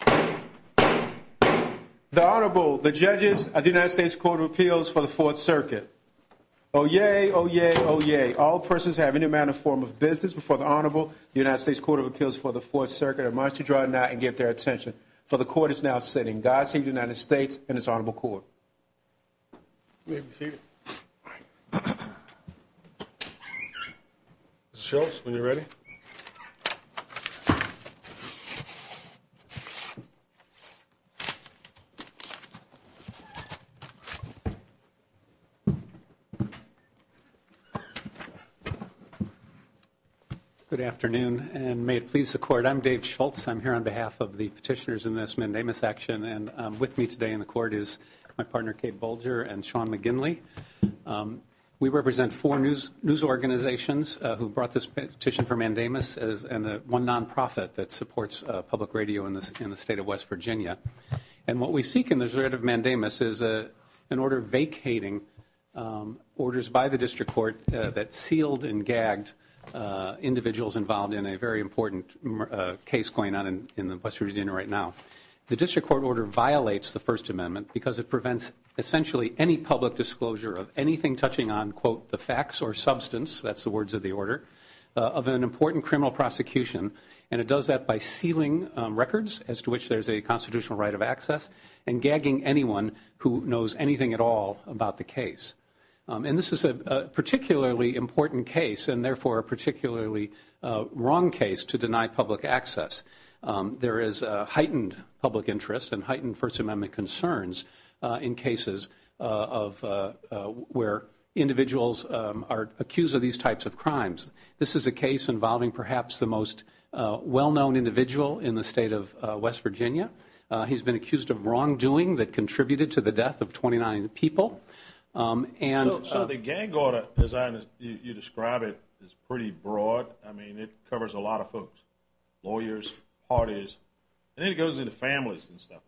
The Honorable, the Judges of the United States Court of Appeals for the Fourth Circuit. Oh yay, oh yay, oh yay. All persons who have any amount or form of business before the Honorable, the United States Court of Appeals for the Fourth Circuit, are admonished to draw a knot and get their attention. For the Court is now sitting. God save the United States and this Honorable Court. You may be seated. Mr. Shultz, when you're ready. Good afternoon, and may it please the Court. I'm Dave Shultz. I'm here on behalf of the petitioners in this Mandamus action. And with me today in the Court is my partner, Kate Bolger, and Sean McGinley. We represent four news organizations who brought this petition for Mandamus, and one non-profit that supports public radio in the state of West Virginia. And what we seek in the dread of Mandamus is an order vacating orders by the District Court that sealed and gagged individuals involved in a very important case going on in the West Virginia right now. The District Court order violates the First Amendment because it prevents essentially any public disclosure of anything touching on, quote, the facts or substance, that's the words of the order, of an important criminal prosecution. And it does that by sealing records as to which there's a constitutional right of access and gagging anyone who knows anything at all about the case. And this is a particularly important case and therefore a particularly wrong case to deny public access. There is heightened public interest and heightened First Amendment concerns in cases of where individuals are accused of these types of crimes. This is a case involving perhaps the most well-known individual in the state of West Virginia. He's been accused of wrongdoing that contributed to the death of 29 people. So the gag order, as you describe it, is pretty broad. I mean, it covers a lot of folks, lawyers, parties, and then it goes into families and stuff.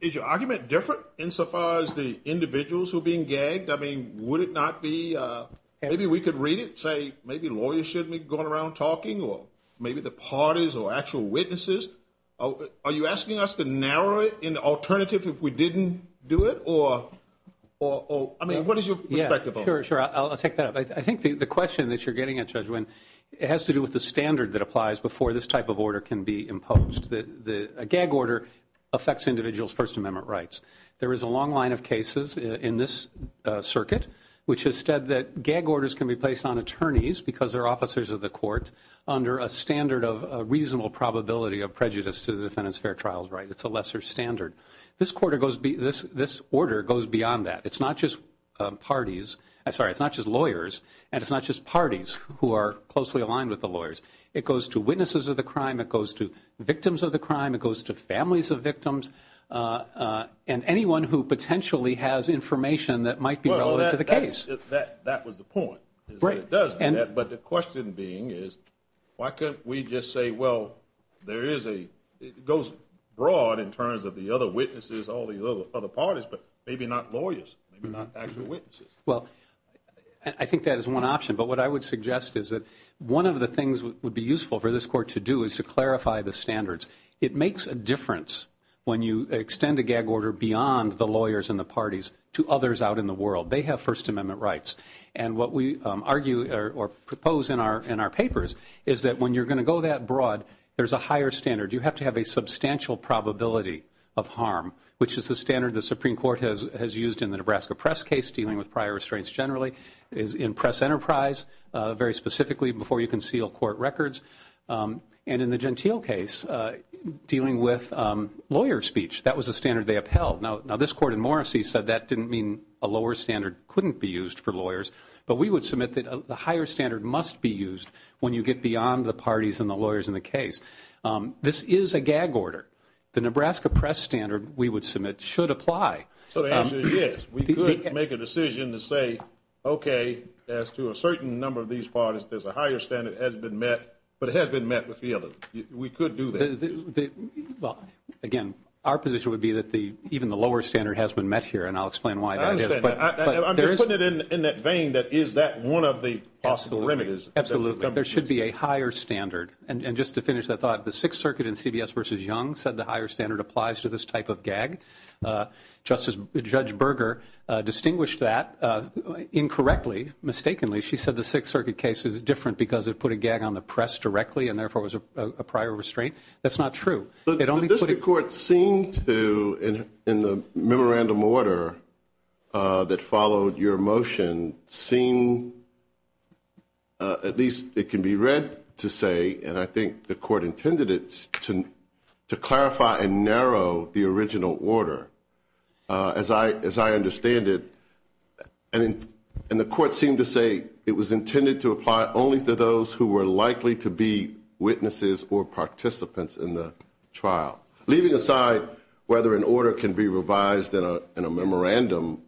Is your argument different insofar as the individuals who are being gagged? I mean, would it not be – maybe we could read it, say maybe lawyers shouldn't be going around talking or maybe the parties or actual witnesses. Are you asking us to narrow it in alternative if we didn't do it? Or, I mean, what is your perspective on it? Sure, sure. I'll take that. I think the question that you're getting at, Judge Wynn, it has to do with the standard that applies before this type of order can be imposed. A gag order affects individuals' First Amendment rights. There is a long line of cases in this circuit which has said that gag orders can be placed on attorneys because they're officers of the court under a standard of a reasonable probability of prejudice to the defendant's fair trials right. It's a lesser standard. This order goes beyond that. It's not just parties – sorry, it's not just lawyers and it's not just parties who are closely aligned with the lawyers. It goes to witnesses of the crime. It goes to victims of the crime. It goes to families of victims and anyone who potentially has information that might be relevant to the case. That was the point. But the question being is why can't we just say, well, there is a – it goes broad in terms of the other witnesses, all these other parties, but maybe not lawyers, maybe not actual witnesses. Well, I think that is one option. But what I would suggest is that one of the things that would be useful for this court to do is to clarify the standards. It makes a difference when you extend a gag order beyond the lawyers and the parties to others out in the world. They have First Amendment rights. And what we argue or propose in our papers is that when you're going to go that broad, there's a higher standard. You have to have a substantial probability of harm, which is the standard the Supreme Court has used in the Nebraska press case dealing with prior restraints generally, in press enterprise very specifically before you can seal court records, and in the Gentile case dealing with lawyer speech. That was a standard they upheld. Now, this court in Morrissey said that didn't mean a lower standard couldn't be used for lawyers, but we would submit that the higher standard must be used when you get beyond the parties and the lawyers in the case. This is a gag order. The Nebraska press standard, we would submit, should apply. So the answer is yes. We could make a decision to say, okay, as to a certain number of these parties, there's a higher standard that has been met, but it has been met with the other. We could do that. Well, again, our position would be that even the lower standard has been met here, and I'll explain why that is. I understand. I'm just putting it in that vein that is that one of the possible remedies? Absolutely. There should be a higher standard. And just to finish that thought, the Sixth Circuit in CBS v. Young said the higher standard applies to this type of gag. Judge Berger distinguished that incorrectly, mistakenly. She said the Sixth Circuit case is different because it put a gag on the press directly and, therefore, was a prior restraint. That's not true. The district court seemed to, in the memorandum order that followed your motion, seem at least it can be read to say, and I think the court intended it to clarify and narrow the original order as I understand it. And the court seemed to say it was intended to apply only to those who were likely to be witnesses or participants in the trial, leaving aside whether an order can be revised in a memorandum.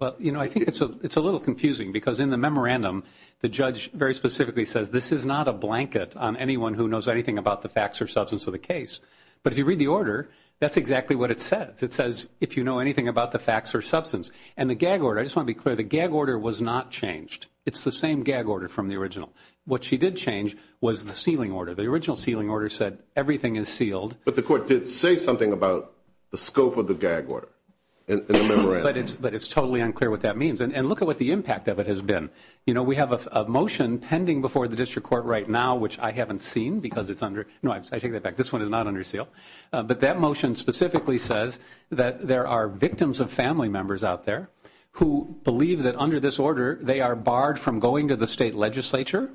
Well, you know, I think it's a little confusing because in the memorandum, the judge very specifically says this is not a blanket on anyone who knows anything about the facts or substance of the case, but if you read the order, that's exactly what it says. It says if you know anything about the facts or substance. And the gag order, I just want to be clear, the gag order was not changed. It's the same gag order from the original. What she did change was the sealing order. The original sealing order said everything is sealed. But the court did say something about the scope of the gag order in the memorandum. But it's totally unclear what that means. And look at what the impact of it has been. You know, we have a motion pending before the district court right now, which I haven't seen because it's under – no, I take that back. This one is not under seal. But that motion specifically says that there are victims of family members out there who believe that under this order they are barred from going to the state legislature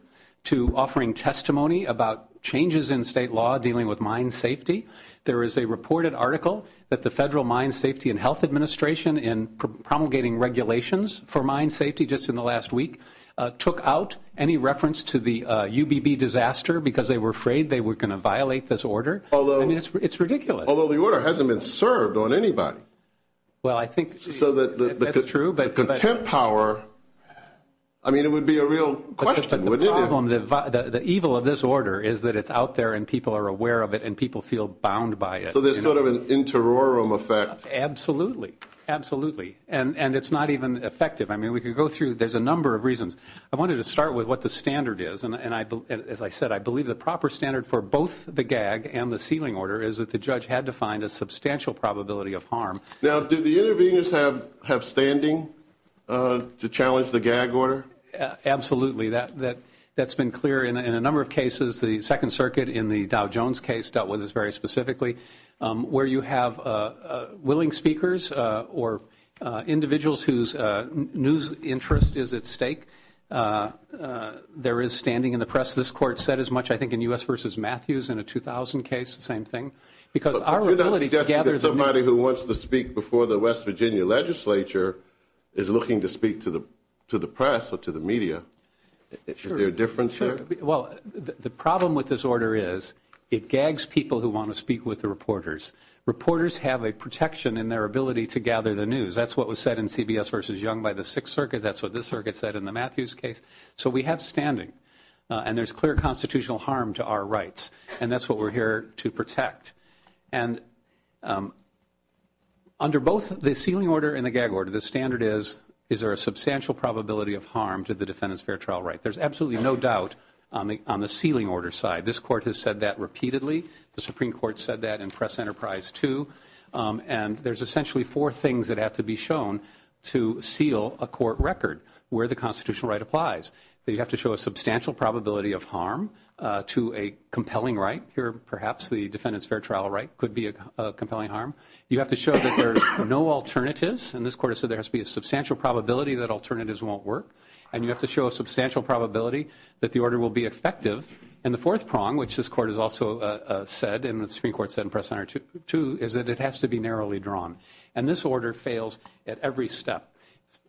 to offering testimony about changes in state law dealing with mine safety. There is a reported article that the Federal Mine Safety and Health Administration in promulgating regulations for mine safety just in the last week took out any reference to the UBB disaster because they were afraid they were going to violate this order. I mean, it's ridiculous. Although the order hasn't been served on anybody. Well, I think – That's true, but – The contempt power, I mean, it would be a real question, wouldn't it? But the problem, the evil of this order is that it's out there and people are aware of it and people feel bound by it. So there's sort of an interiorum effect. Absolutely. Absolutely. And it's not even effective. I mean, we could go through – there's a number of reasons. I wanted to start with what the standard is. As I said, I believe the proper standard for both the gag and the sealing order is that the judge had to find a substantial probability of harm. Now, do the interveners have standing to challenge the gag order? Absolutely. That's been clear in a number of cases. The Second Circuit in the Dow Jones case dealt with this very specifically. Where you have willing speakers or individuals whose news interest is at stake, there is standing in the press. This court said as much, I think, in U.S. v. Matthews in a 2000 case, the same thing. Because our ability to gather – But you're not suggesting that somebody who wants to speak before the West Virginia legislature is looking to speak to the press or to the media. Sure. Is there a difference there? Well, the problem with this order is it gags people who want to speak with the reporters. Reporters have a protection in their ability to gather the news. That's what was said in CBS v. Young by the Sixth Circuit. That's what this circuit said in the Matthews case. So we have standing. And there's clear constitutional harm to our rights. And that's what we're here to protect. And under both the sealing order and the gag order, the standard is, is there a substantial probability of harm to the defendant's fair trial right? There's absolutely no doubt on the sealing order side. This court has said that repeatedly. The Supreme Court said that in Press Enterprise 2. And there's essentially four things that have to be shown to seal a court record where the constitutional right applies. You have to show a substantial probability of harm to a compelling right. Here perhaps the defendant's fair trial right could be a compelling harm. You have to show that there's no alternatives. And this court has said there has to be a substantial probability that alternatives won't work. And you have to show a substantial probability that the order will be effective. And the fourth prong, which this court has also said, and the Supreme Court said in Press Enterprise 2, is that it has to be narrowly drawn. And this order fails at every step.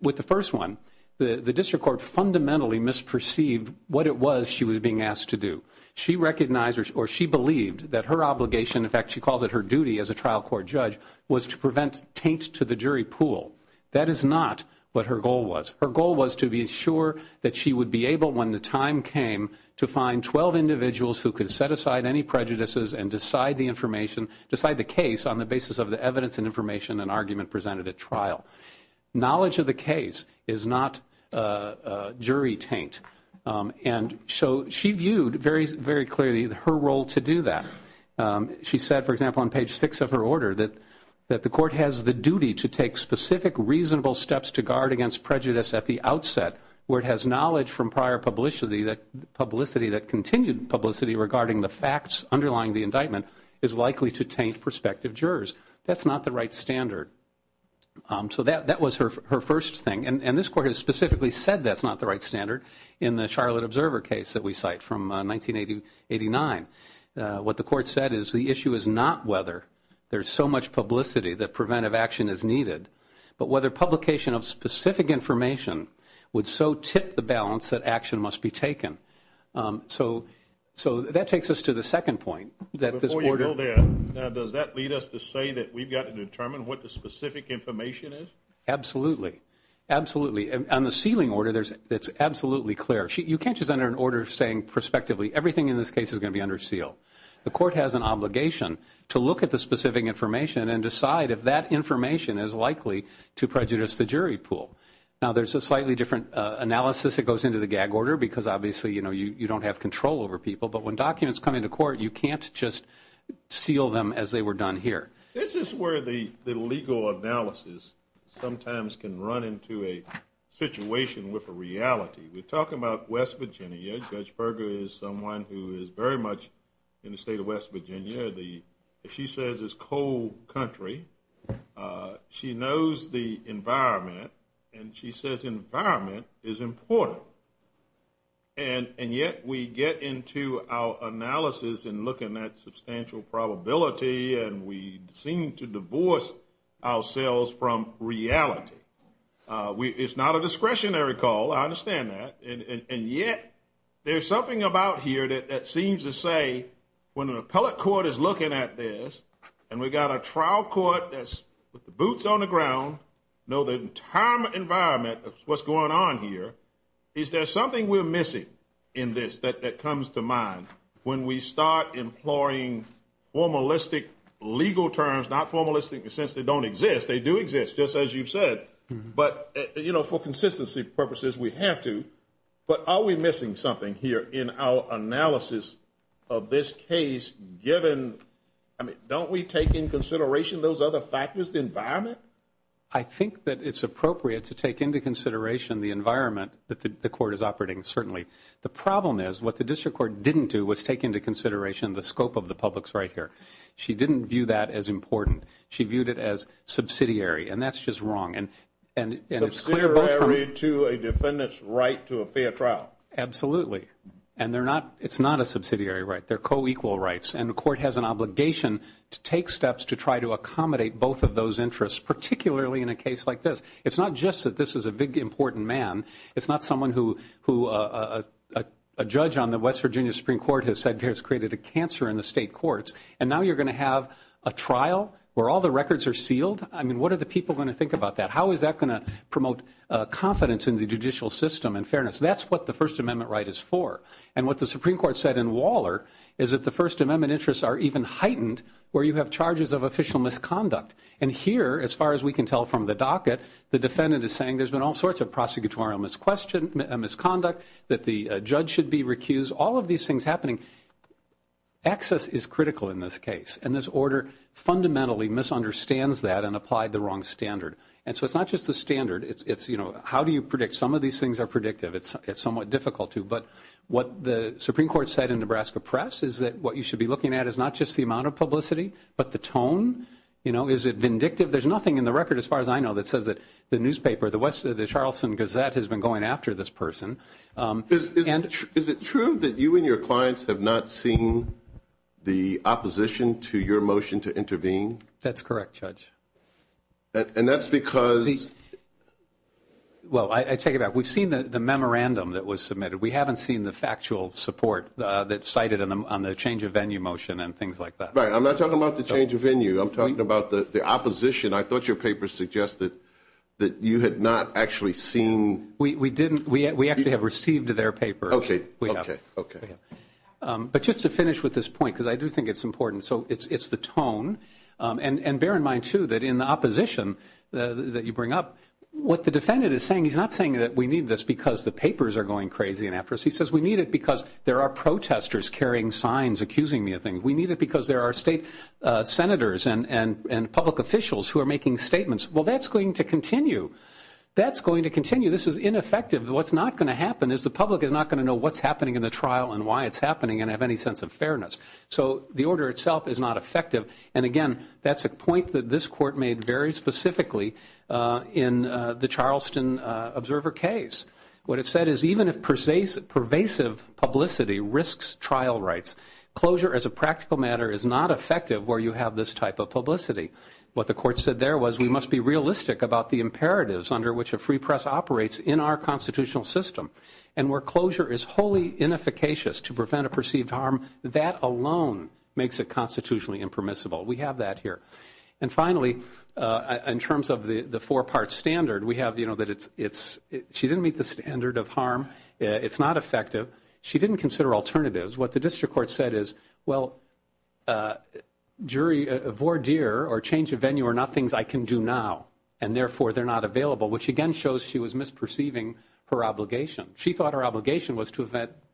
With the first one, the district court fundamentally misperceived what it was she was being asked to do. She recognized or she believed that her obligation, in fact she calls it her duty as a trial court judge, was to prevent taint to the jury pool. That is not what her goal was. Her goal was to be sure that she would be able, when the time came, to find 12 individuals who could set aside any prejudices and decide the information, decide the case on the basis of the evidence and information and argument presented at trial. Knowledge of the case is not jury taint. And so she viewed very clearly her role to do that. She said, for example, on page 6 of her order, that the court has the duty to take specific reasonable steps to guard against prejudice at the outset, where it has knowledge from prior publicity that continued publicity regarding the facts underlying the indictment is likely to taint prospective jurors. That's not the right standard. So that was her first thing. And this court has specifically said that's not the right standard in the Charlotte Observer case that we cite from 1989. What the court said is the issue is not whether there's so much publicity that preventive action is needed, but whether publication of specific information would so tip the balance that action must be taken. So that takes us to the second point. Before you go there, does that lead us to say that we've got to determine what the specific information is? Absolutely. Absolutely. On the sealing order, it's absolutely clear. You can't just enter an order saying prospectively everything in this case is going to be under seal. The court has an obligation to look at the specific information and decide if that information is likely to prejudice the jury pool. Now, there's a slightly different analysis that goes into the gag order because, obviously, you know, you don't have control over people. But when documents come into court, you can't just seal them as they were done here. This is where the legal analysis sometimes can run into a situation with a reality. We're talking about West Virginia. Judge Berger is someone who is very much in the state of West Virginia. She says it's cold country. She knows the environment, and she says environment is important. And yet we get into our analysis and look at that substantial probability, and we seem to divorce ourselves from reality. It's not a discretionary call. I understand that. And yet there's something about here that seems to say when an appellate court is looking at this and we've got a trial court that's with the boots on the ground, know the entire environment of what's going on here, is there something we're missing in this that comes to mind when we start employing formalistic legal terms, not formalistic in the sense they don't exist. They do exist, just as you've said. But, you know, for consistency purposes, we have to. But are we missing something here in our analysis of this case given, I mean, don't we take in consideration those other factors, the environment? I think that it's appropriate to take into consideration the environment that the court is operating, certainly. The problem is what the district court didn't do was take into consideration the scope of the public's right here. She didn't view that as important. She viewed it as subsidiary, and that's just wrong. Subsidiary to a defendant's right to a fair trial. Absolutely. And it's not a subsidiary right. They're co-equal rights. And the court has an obligation to take steps to try to accommodate both of those interests, particularly in a case like this. It's not just that this is a big, important man. It's not someone who a judge on the West Virginia Supreme Court has said has created a cancer in the state courts. And now you're going to have a trial where all the records are sealed? I mean, what are the people going to think about that? How is that going to promote confidence in the judicial system and fairness? That's what the First Amendment right is for. And what the Supreme Court said in Waller is that the First Amendment interests are even heightened where you have charges of official misconduct. And here, as far as we can tell from the docket, the defendant is saying there's been all sorts of prosecutorial misconduct, that the judge should be recused, all of these things happening. Access is critical in this case. And this order fundamentally misunderstands that and applied the wrong standard. And so it's not just the standard. It's, you know, how do you predict? Some of these things are predictive. It's somewhat difficult to. But what the Supreme Court said in Nebraska Press is that what you should be looking at is not just the amount of publicity, but the tone. You know, is it vindictive? There's nothing in the record, as far as I know, that says that the newspaper, the Charleston Gazette, has been going after this person. Is it true that you and your clients have not seen the opposition to your motion to intervene? That's correct, Judge. And that's because? Well, I take it back. We've seen the memorandum that was submitted. We haven't seen the factual support that's cited on the change of venue motion and things like that. Right. I'm not talking about the change of venue. I'm talking about the opposition. I thought your paper suggested that you had not actually seen. We didn't. We actually have received their papers. Okay. But just to finish with this point, because I do think it's important. So it's the tone. And bear in mind, too, that in the opposition that you bring up, what the defendant is saying, he's not saying that we need this because the papers are going crazy and after us. He says we need it because there are protesters carrying signs accusing me of things. We need it because there are state senators and public officials who are making statements. Well, that's going to continue. That's going to continue. This is ineffective. What's not going to happen is the public is not going to know what's happening in the trial and why it's happening and have any sense of fairness. So the order itself is not effective. And, again, that's a point that this court made very specifically in the Charleston observer case. What it said is even if pervasive publicity risks trial rights, closure as a practical matter is not effective where you have this type of publicity. What the court said there was we must be realistic about the imperatives under which a free press operates in our constitutional system. And where closure is wholly inefficacious to prevent a perceived harm, that alone makes it constitutionally impermissible. We have that here. And, finally, in terms of the four-part standard, we have, you know, that it's – she didn't meet the standard of harm. It's not effective. She didn't consider alternatives. What the district court said is, well, jury voir dire or change of venue are not things I can do now, and, therefore, they're not available, which, again, shows she was misperceiving her obligation. She thought her obligation was to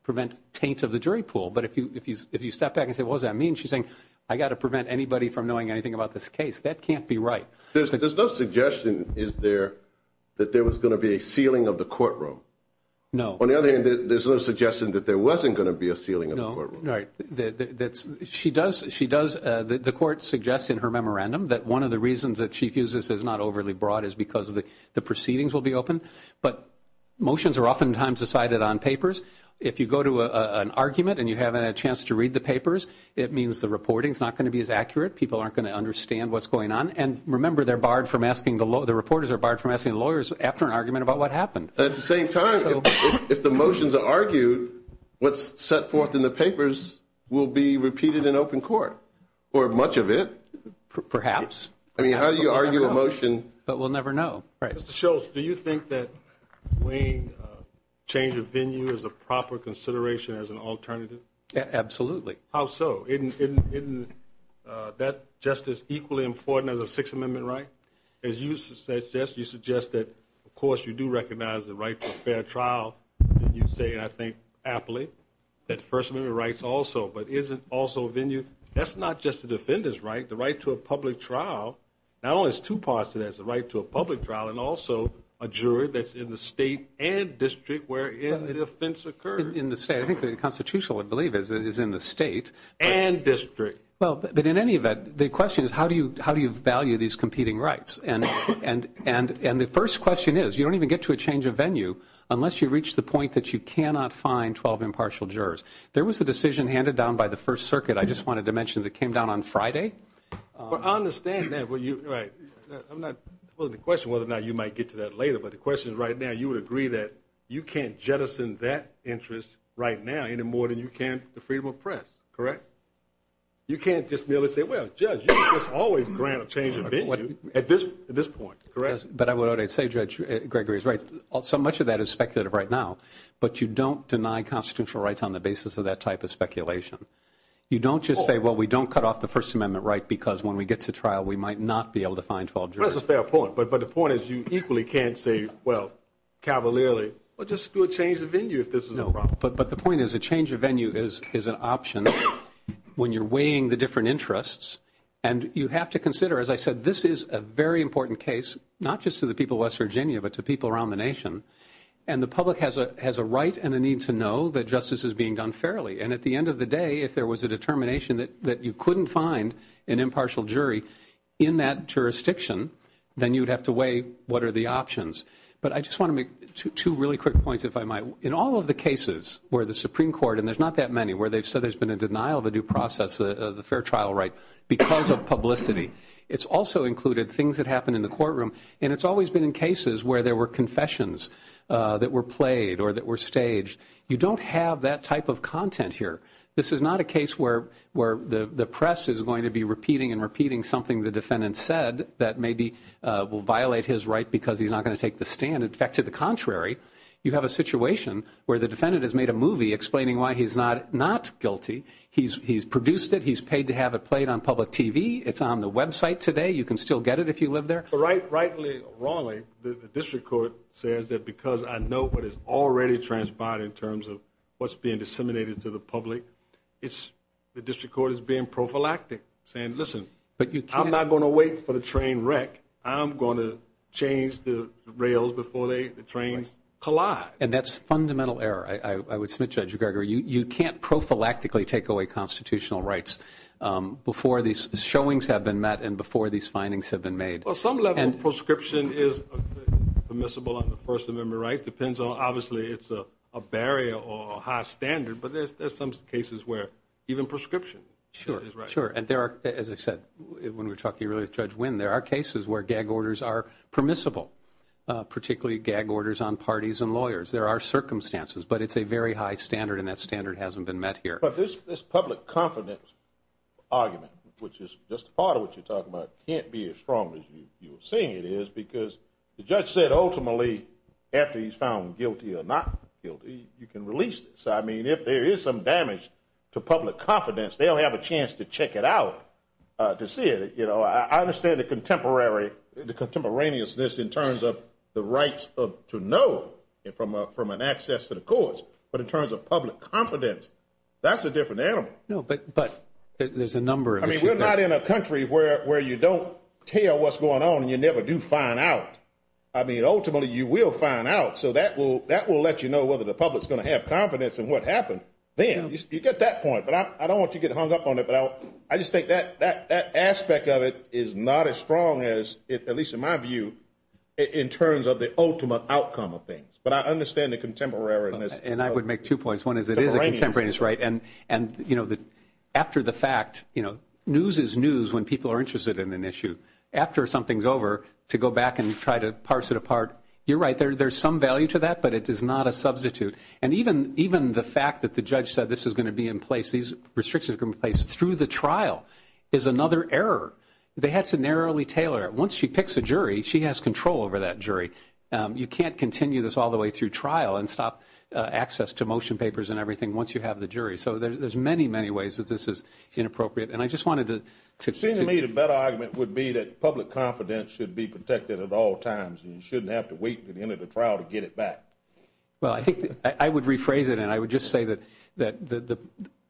prevent taint of the jury pool. But if you step back and say, what does that mean? She's saying, I've got to prevent anybody from knowing anything about this case. That can't be right. There's no suggestion, is there, that there was going to be a sealing of the courtroom. No. On the other hand, there's no suggestion that there wasn't going to be a sealing of the courtroom. No. Right. She does – the court suggests in her memorandum that one of the reasons that she views this as not overly broad is because the proceedings will be open. But motions are oftentimes decided on papers. If you go to an argument and you haven't had a chance to read the papers, it means the reporting is not going to be as accurate. People aren't going to understand what's going on. And, remember, they're barred from asking the – the reporters are barred from asking the lawyers after an argument about what happened. At the same time, if the motions are argued, what's set forth in the papers will be repeated in open court or much of it. Perhaps. I mean, how do you argue a motion? But we'll never know. Mr. Schultz, do you think that weighing change of venue is a proper consideration as an alternative? Absolutely. How so? Isn't that just as equally important as a Sixth Amendment right? As you suggest, you suggest that, of course, you do recognize the right to a fair trial, and you say, I think, aptly, that First Amendment rights also. But is it also venue? That's not just the defender's right. The right to a public trial, not only is two parts to that. It's the right to a public trial and also a jury that's in the state and district where the offense occurred. In the state. I think the constitutional, I believe, is in the state. And district. Well, but in any event, the question is, how do you value these competing rights? And the first question is, you don't even get to a change of venue unless you reach the point that you cannot find 12 impartial jurors. There was a decision handed down by the First Circuit, I just wanted to mention, that came down on Friday. But I understand that. I'm not supposed to question whether or not you might get to that later, but the question right now, you would agree that you can't jettison that interest right now any more than you can the freedom of press, correct? You can't just merely say, well, Judge, you can't just always grant a change of venue at this point, correct? But I would say, Judge, Gregory is right. So much of that is speculative right now. But you don't deny constitutional rights on the basis of that type of speculation. You don't just say, well, we don't cut off the First Amendment right because when we get to trial, we might not be able to find 12 jurors. That's a fair point. But the point is you equally can't say, well, cavalierly, well, just do a change of venue if this is a problem. But the point is a change of venue is an option when you're weighing the different interests. And you have to consider, as I said, this is a very important case, not just to the people of West Virginia, but to people around the nation. And the public has a right and a need to know that justice is being done fairly. And at the end of the day, if there was a determination that you couldn't find an impartial jury in that jurisdiction, then you would have to weigh what are the options. But I just want to make two really quick points, if I might. In all of the cases where the Supreme Court, and there's not that many, where they've said there's been a denial of a due process of the fair trial right because of publicity, it's also included things that happen in the courtroom. And it's always been in cases where there were confessions that were played or that were staged. You don't have that type of content here. This is not a case where the press is going to be repeating and repeating something the defendant said that maybe will violate his right because he's not going to take the stand. In fact, to the contrary, you have a situation where the defendant has made a movie explaining why he's not guilty. He's produced it. He's paid to have it played on public TV. It's on the website today. You can still get it if you live there. Rightly or wrongly, the district court says that because I know what is already transpired in terms of what's being disseminated to the public, the district court is being prophylactic, saying, listen, I'm not going to wait for the train wreck. I'm going to change the rails before the trains collide. And that's fundamental error. I would submit, Judge Greger, you can't prophylactically take away constitutional rights before these showings have been met and before these findings have been made. Well, some level of prescription is permissible on the First Amendment rights. It depends on obviously it's a barrier or a high standard, but there's some cases where even prescription is right. Sure, sure. And there are, as I said, when we were talking earlier with Judge Wynn, there are cases where gag orders are permissible, particularly gag orders on parties and lawyers. There are circumstances, but it's a very high standard, and that standard hasn't been met here. But this public confidence argument, which is just part of what you're talking about, can't be as strong as you were saying it is because the judge said ultimately after he's found guilty or not guilty, you can release this. I mean, if there is some damage to public confidence, they'll have a chance to check it out to see it. I understand the contemporaneousness in terms of the rights to know from an access to the courts, but in terms of public confidence, that's a different animal. No, but there's a number of issues there. I mean, we're not in a country where you don't tell what's going on and you never do find out. I mean, ultimately you will find out. So that will let you know whether the public is going to have confidence in what happened then. You get that point. But I don't want to get hung up on it, but I just think that aspect of it is not as strong as, at least in my view, in terms of the ultimate outcome of things. But I understand the contemporaneousness. And I would make two points. One is it is a contemporaneous right. And, you know, after the fact, you know, news is news when people are interested in an issue. After something is over, to go back and try to parse it apart, you're right. There's some value to that, but it is not a substitute. And even the fact that the judge said this is going to be in place, these restrictions are going to be in place through the trial, is another error. They had to narrowly tailor it. Once she picks a jury, she has control over that jury. You can't continue this all the way through trial and stop access to motion papers and everything once you have the jury. So there's many, many ways that this is inappropriate. And I just wanted to – It seems to me the better argument would be that public confidence should be protected at all times and you shouldn't have to wait until the end of the trial to get it back. Well, I think I would rephrase it. And I would just say that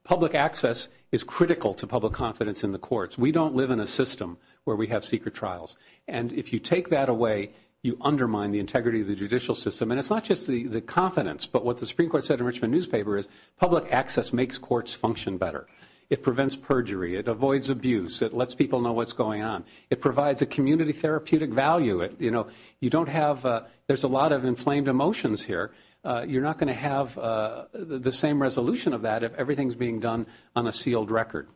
public access is critical to public confidence in the courts. We don't live in a system where we have secret trials. And if you take that away, you undermine the integrity of the judicial system. And it's not just the confidence, but what the Supreme Court said in Richmond newspaper is public access makes courts function better. It prevents perjury. It avoids abuse. It lets people know what's going on. It provides a community therapeutic value. You know, you don't have – there's a lot of inflamed emotions here. You're not going to have the same resolution of that if everything is being done on a sealed record.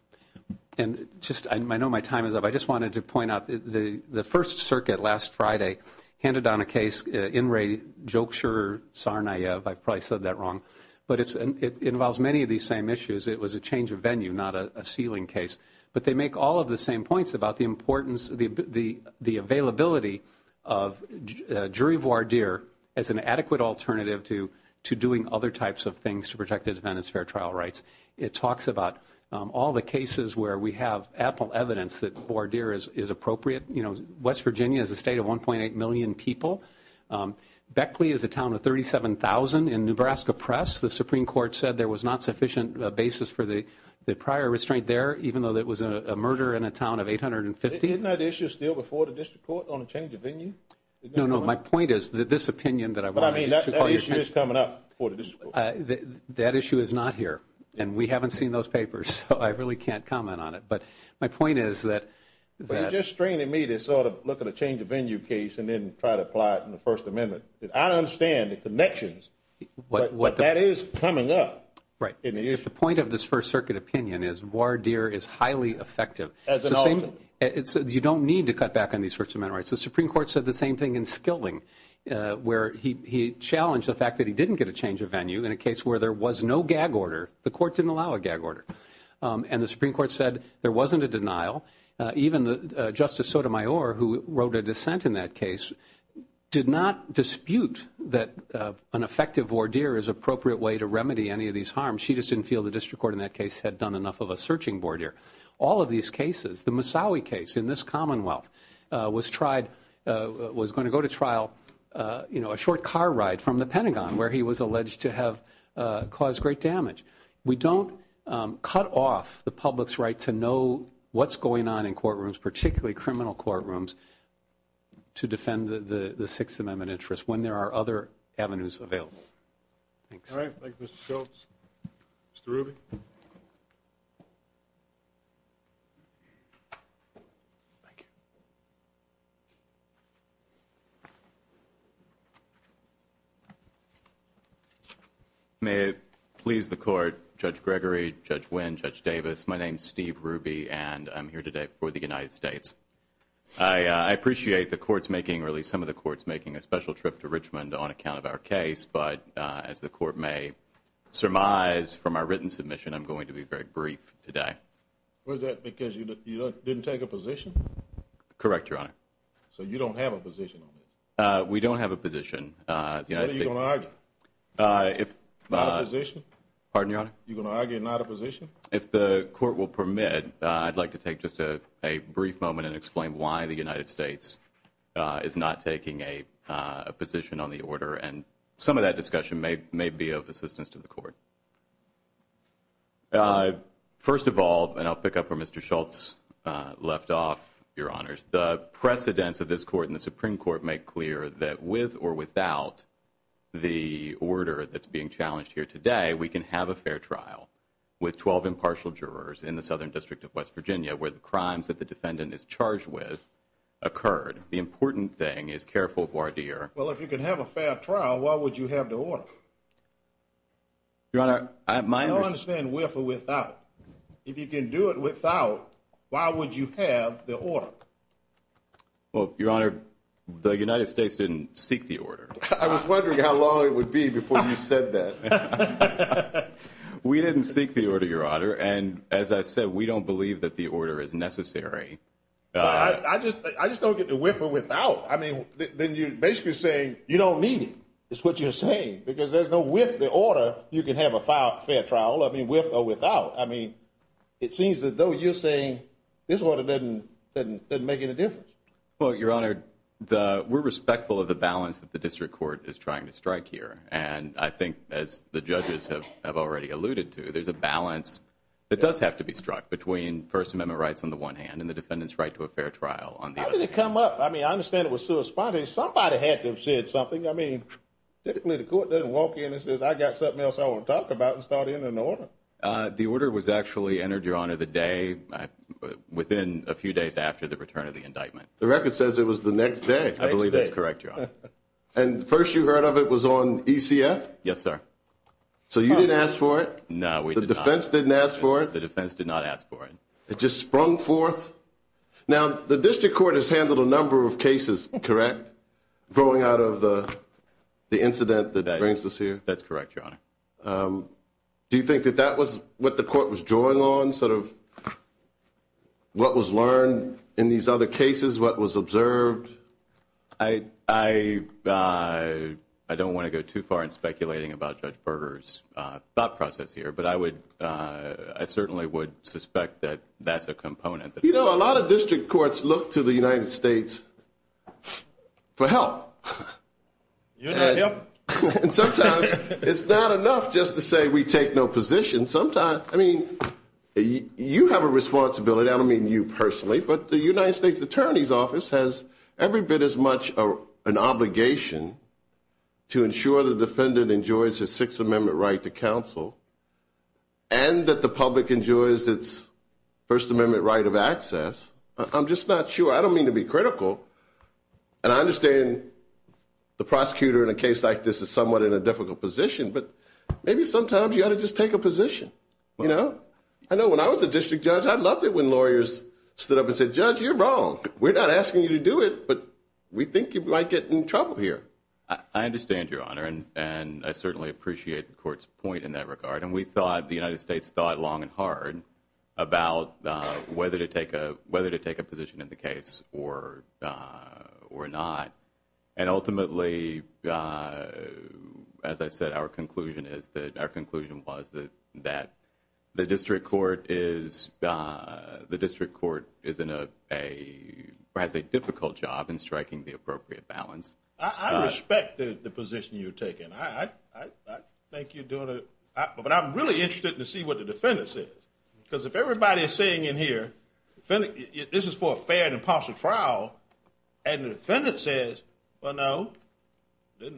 And just – I know my time is up. I just wanted to point out, the First Circuit last Friday handed down a case, In re Joksir Sarnayev. I probably said that wrong. But it involves many of these same issues. It was a change of venue, not a sealing case. But they make all of the same points about the importance of the availability of jury voir dire as an adequate alternative to doing other types of things to protect defendants' fair trial rights. It talks about all the cases where we have ample evidence that voir dire is appropriate. You know, West Virginia is a state of 1.8 million people. Beckley is a town of 37,000. In Nebraska Press, the Supreme Court said there was not sufficient basis for the prior restraint there, even though it was a murder in a town of 850. Isn't that issue still before the district court on a change of venue? No, no. My point is that this opinion that I wanted to call your attention to – But, I mean, that issue is coming up before the district court. That issue is not here. And we haven't seen those papers, so I really can't comment on it. But my point is that – But you're just straining me to sort of look at a change of venue case and then try to apply it in the First Amendment. I understand the connections, but that is coming up. Right. The point of this First Circuit opinion is voir dire is highly effective. As an officer. You don't need to cut back on these First Amendment rights. The Supreme Court said the same thing in Skilding, where he challenged the fact that he didn't get a change of venue in a case where there was no gag order. The court didn't allow a gag order. And the Supreme Court said there wasn't a denial. Even Justice Sotomayor, who wrote a dissent in that case, did not dispute that an effective voir dire is an appropriate way to remedy any of these harms. She just didn't feel the district court in that case had done enough of a searching voir dire. All of these cases, the Massawi case in this Commonwealth, was going to go to trial, you know, a short car ride from the Pentagon, where he was alleged to have caused great damage. We don't cut off the public's right to know what's going on in courtrooms, particularly criminal courtrooms, to defend the Sixth Amendment interest when there are other avenues available. Thanks. All right. Thank you, Mr. Schultz. Mr. Ruby. Thank you. May it please the court, Judge Gregory, Judge Wynn, Judge Davis, my name is Steve Ruby, and I'm here today for the United States. I appreciate the courts making, or at least some of the courts making, a special trip to Richmond on account of our case. But as the court may surmise from our written submission, I'm going to be very brief today. Was that because you didn't take a position? Correct, Your Honor. So you don't have a position on this? We don't have a position. What are you going to argue? Not a position? Pardon, Your Honor? You're going to argue not a position? If the court will permit, I'd like to take just a brief moment and explain why the United States is not taking a position on the order, and some of that discussion may be of assistance to the court. First of all, and I'll pick up where Mr. Schultz left off, Your Honors, the precedents of this court and the Supreme Court make clear that with or without the order that's being challenged here today, we can have a fair trial with 12 impartial jurors in the Southern District of West Virginia where the crimes that the defendant is charged with occurred. The important thing is, careful, voir dire. Well, if you can have a fair trial, why would you have the order? Your Honor, my understanding is with or without. If you can do it without, why would you have the order? Well, Your Honor, the United States didn't seek the order. I was wondering how long it would be before you said that. We didn't seek the order, Your Honor, and as I said, we don't believe that the order is necessary. I just don't get the with or without. I mean, then you're basically saying you don't need it is what you're saying because there's no with the order you can have a fair trial, I mean, with or without. I mean, it seems as though you're saying this order doesn't make any difference. Well, Your Honor, we're respectful of the balance that the district court is trying to strike here, and I think as the judges have already alluded to, there's a balance that does have to be struck between First Amendment rights on the one hand and the defendant's right to a fair trial on the other. I mean, it didn't come up. I mean, I understand it was so spotty. Somebody had to have said something. I mean, typically the court doesn't walk in and says, I've got something else I want to talk about and start entering an order. The order was actually entered, Your Honor, the day within a few days after the return of the indictment. The record says it was the next day. I believe that's correct, Your Honor. And the first you heard of it was on ECF? Yes, sir. So you didn't ask for it? No, we did not. The defense didn't ask for it? The defense did not ask for it. It just sprung forth. Now, the district court has handled a number of cases, correct, growing out of the incident that brings us here? That's correct, Your Honor. Do you think that that was what the court was drawing on, sort of what was learned in these other cases, what was observed? I don't want to go too far in speculating about Judge Berger's thought process here, but I certainly would suspect that that's a component. You know, a lot of district courts look to the United States for help. Yep. And sometimes it's not enough just to say we take no position. I mean, you have a responsibility. I don't mean you personally, but the United States Attorney's Office has every bit as much an obligation to ensure the defendant enjoys his Sixth Amendment right to counsel and that the public enjoys its First Amendment right of access. I'm just not sure. I don't mean to be critical. And I understand the prosecutor in a case like this is somewhat in a difficult position, but maybe sometimes you ought to just take a position, you know? I know when I was a district judge, I loved it when lawyers stood up and said, Judge, you're wrong. We're not asking you to do it, but we think you might get in trouble here. I understand, Your Honor, and I certainly appreciate the court's point in that regard. And we thought, the United States thought long and hard about whether to take a position in the case or not. And ultimately, as I said, our conclusion was that the district court has a difficult job in striking the appropriate balance. I respect the position you're taking. I think you're doing it. But I'm really interested to see what the defendant says, because if everybody is saying in here, this is for a fair and impartial trial, and the defendant says, well, no, it's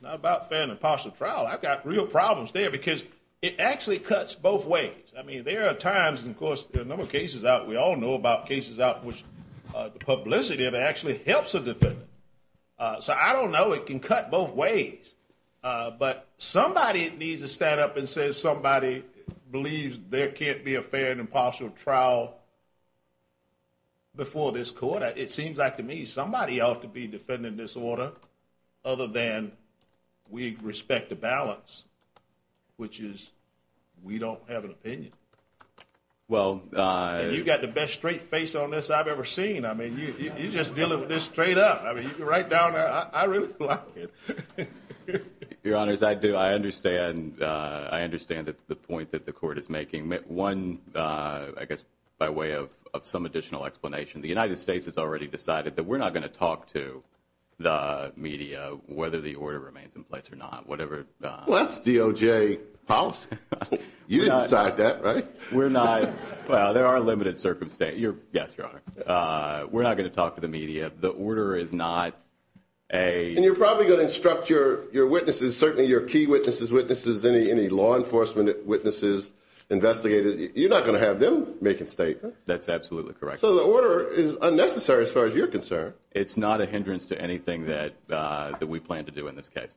not about fair and impartial trial. I've got real problems there because it actually cuts both ways. I mean, there are times, of course, there are a number of cases out, we all know about cases out, which the publicity of it actually helps a defendant. So I don't know. It can cut both ways. But somebody needs to stand up and say somebody believes there can't be a fair and impartial trial before this court. It seems like to me somebody ought to be defending this order other than we respect the balance, which is we don't have an opinion. Well, you've got the best straight face on this I've ever seen. I mean, you just deal with this straight up. I mean, you can write down. I really like it. Your Honor, as I do, I understand. I understand that the point that the court is making one, I guess, by way of some additional explanation. The United States has already decided that we're not going to talk to the media whether the order remains in place or not, whatever. Well, that's DOJ policy. You didn't decide that, right? We're not. Well, there are limited circumstances. Yes, Your Honor. We're not going to talk to the media. The order is not a. And you're probably going to instruct your witnesses, certainly your key witnesses, witnesses, any law enforcement witnesses, investigators. You're not going to have them make a statement. That's absolutely correct. So the order is unnecessary as far as you're concerned. It's not a hindrance to anything that we plan to do in this case.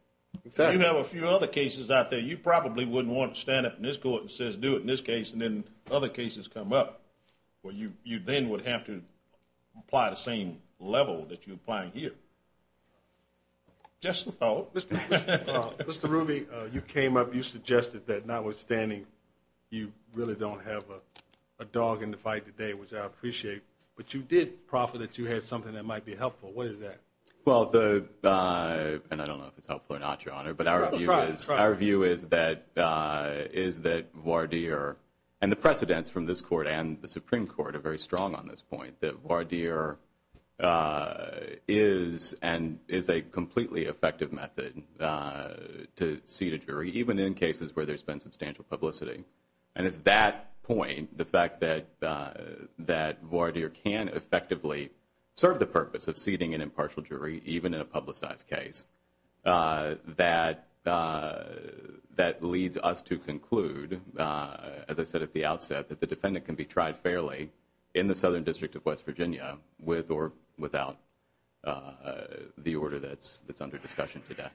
So you have a few other cases out there. You probably wouldn't want to stand up in this court and says, do it in this case. And then other cases come up where you you then would have to apply the same level that you apply here. Just thought, Mr. Ruby, you came up, you suggested that notwithstanding, you really don't have a dog in the fight today, which I appreciate. But you did profit that you had something that might be helpful. What is that? Well, the and I don't know if it's helpful or not, Your Honor, but our view is our view is that is that Vardir and the precedents from this court and the Supreme Court are very strong on this point that Vardir is and is a completely effective method to see the jury, even in cases where there's been substantial publicity. And it's that point, the fact that that Vardir can effectively serve the purpose of seating an impartial jury, even in a publicized case, that that leads us to conclude, as I said at the outset, that the defendant can be tried fairly in the Southern District of West Virginia with or without the order that's that's under discussion today.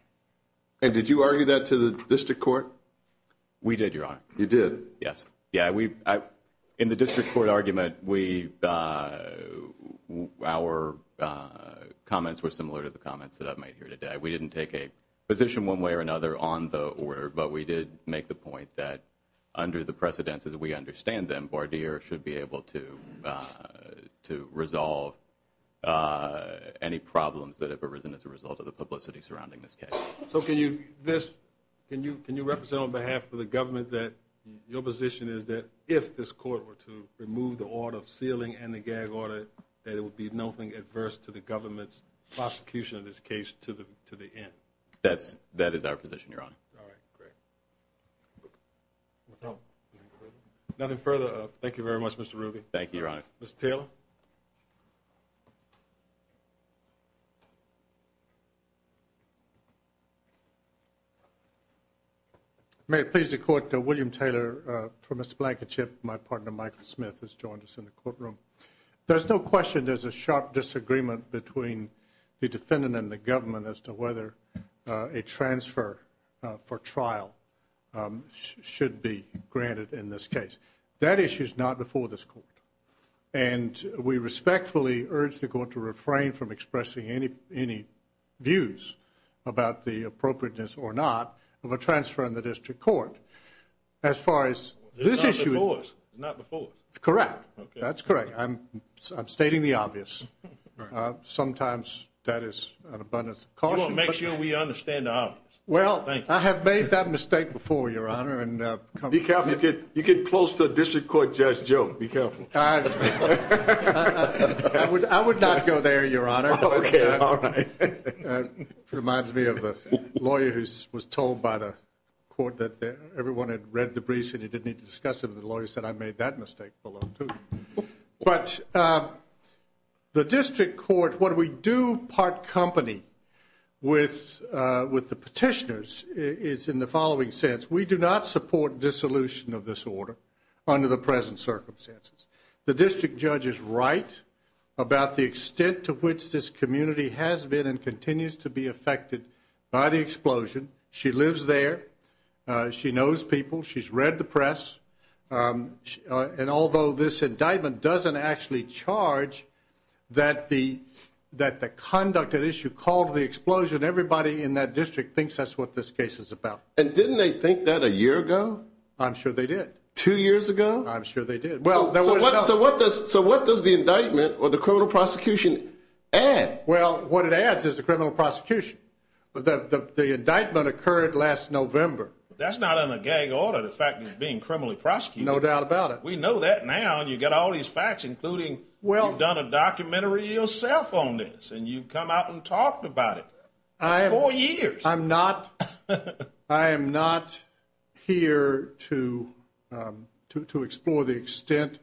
And did you argue that to the district court? We did, Your Honor. You did? Yes. Yeah. We in the district court argument, we our comments were similar to the comments that I've made here today. We didn't take a position one way or another on the order, but we did make the point that under the precedents, as we understand them, Vardir should be able to to resolve any problems that have arisen as a result of the publicity surrounding this case. So can you this can you can you represent on behalf of the government that your position is that if this court were to remove the order of sealing and the gag order, that it would be nothing adverse to the government's prosecution of this case to the to the end? That's that is our position, Your Honor. All right. Great. Nothing further. Thank you very much, Mr. Ruby. Thank you, Your Honor. Still. May it please the court. William Taylor from a blanket chip. My partner, Michael Smith, has joined us in the courtroom. There's no question there's a sharp disagreement between the defendant and the government as to whether a transfer for trial should be granted in this case. That issue is not before this court. And we respectfully urge the court to refrain from expressing any any views about the appropriateness or not of a transfer in the district court. As far as this issue is not before. Correct. That's correct. I'm stating the obvious. Sometimes that is an abundance of caution. Make sure we understand. Well, I have made that mistake before, Your Honor. And be careful. You get close to a district court judge. Joe, be careful. I would I would not go there, Your Honor. All right. Reminds me of a lawyer who was told by the court that everyone had read the briefs and he didn't need to discuss it. The lawyer said I made that mistake. But the district court, what we do part company with with the petitioners is in the following sense. We do not support dissolution of this order under the present circumstances. The district judge is right about the extent to which this community has been and continues to be affected by the explosion. She lives there. She knows people. She's read the press. And although this indictment doesn't actually charge that, the that the conduct that issue called the explosion, everybody in that district thinks that's what this case is about. And didn't they think that a year ago? I'm sure they did. Two years ago. I'm sure they did. Well, so what does so what does the indictment or the criminal prosecution add? Well, what it adds is the criminal prosecution. But the indictment occurred last November. That's not on a gag order. The fact is being criminally prosecuted. No doubt about it. We know that now. And you've got all these facts, including. Well, I've done a documentary yourself on this and you come out and talk about it. I have four years. I'm not I am not here to to to explore the extent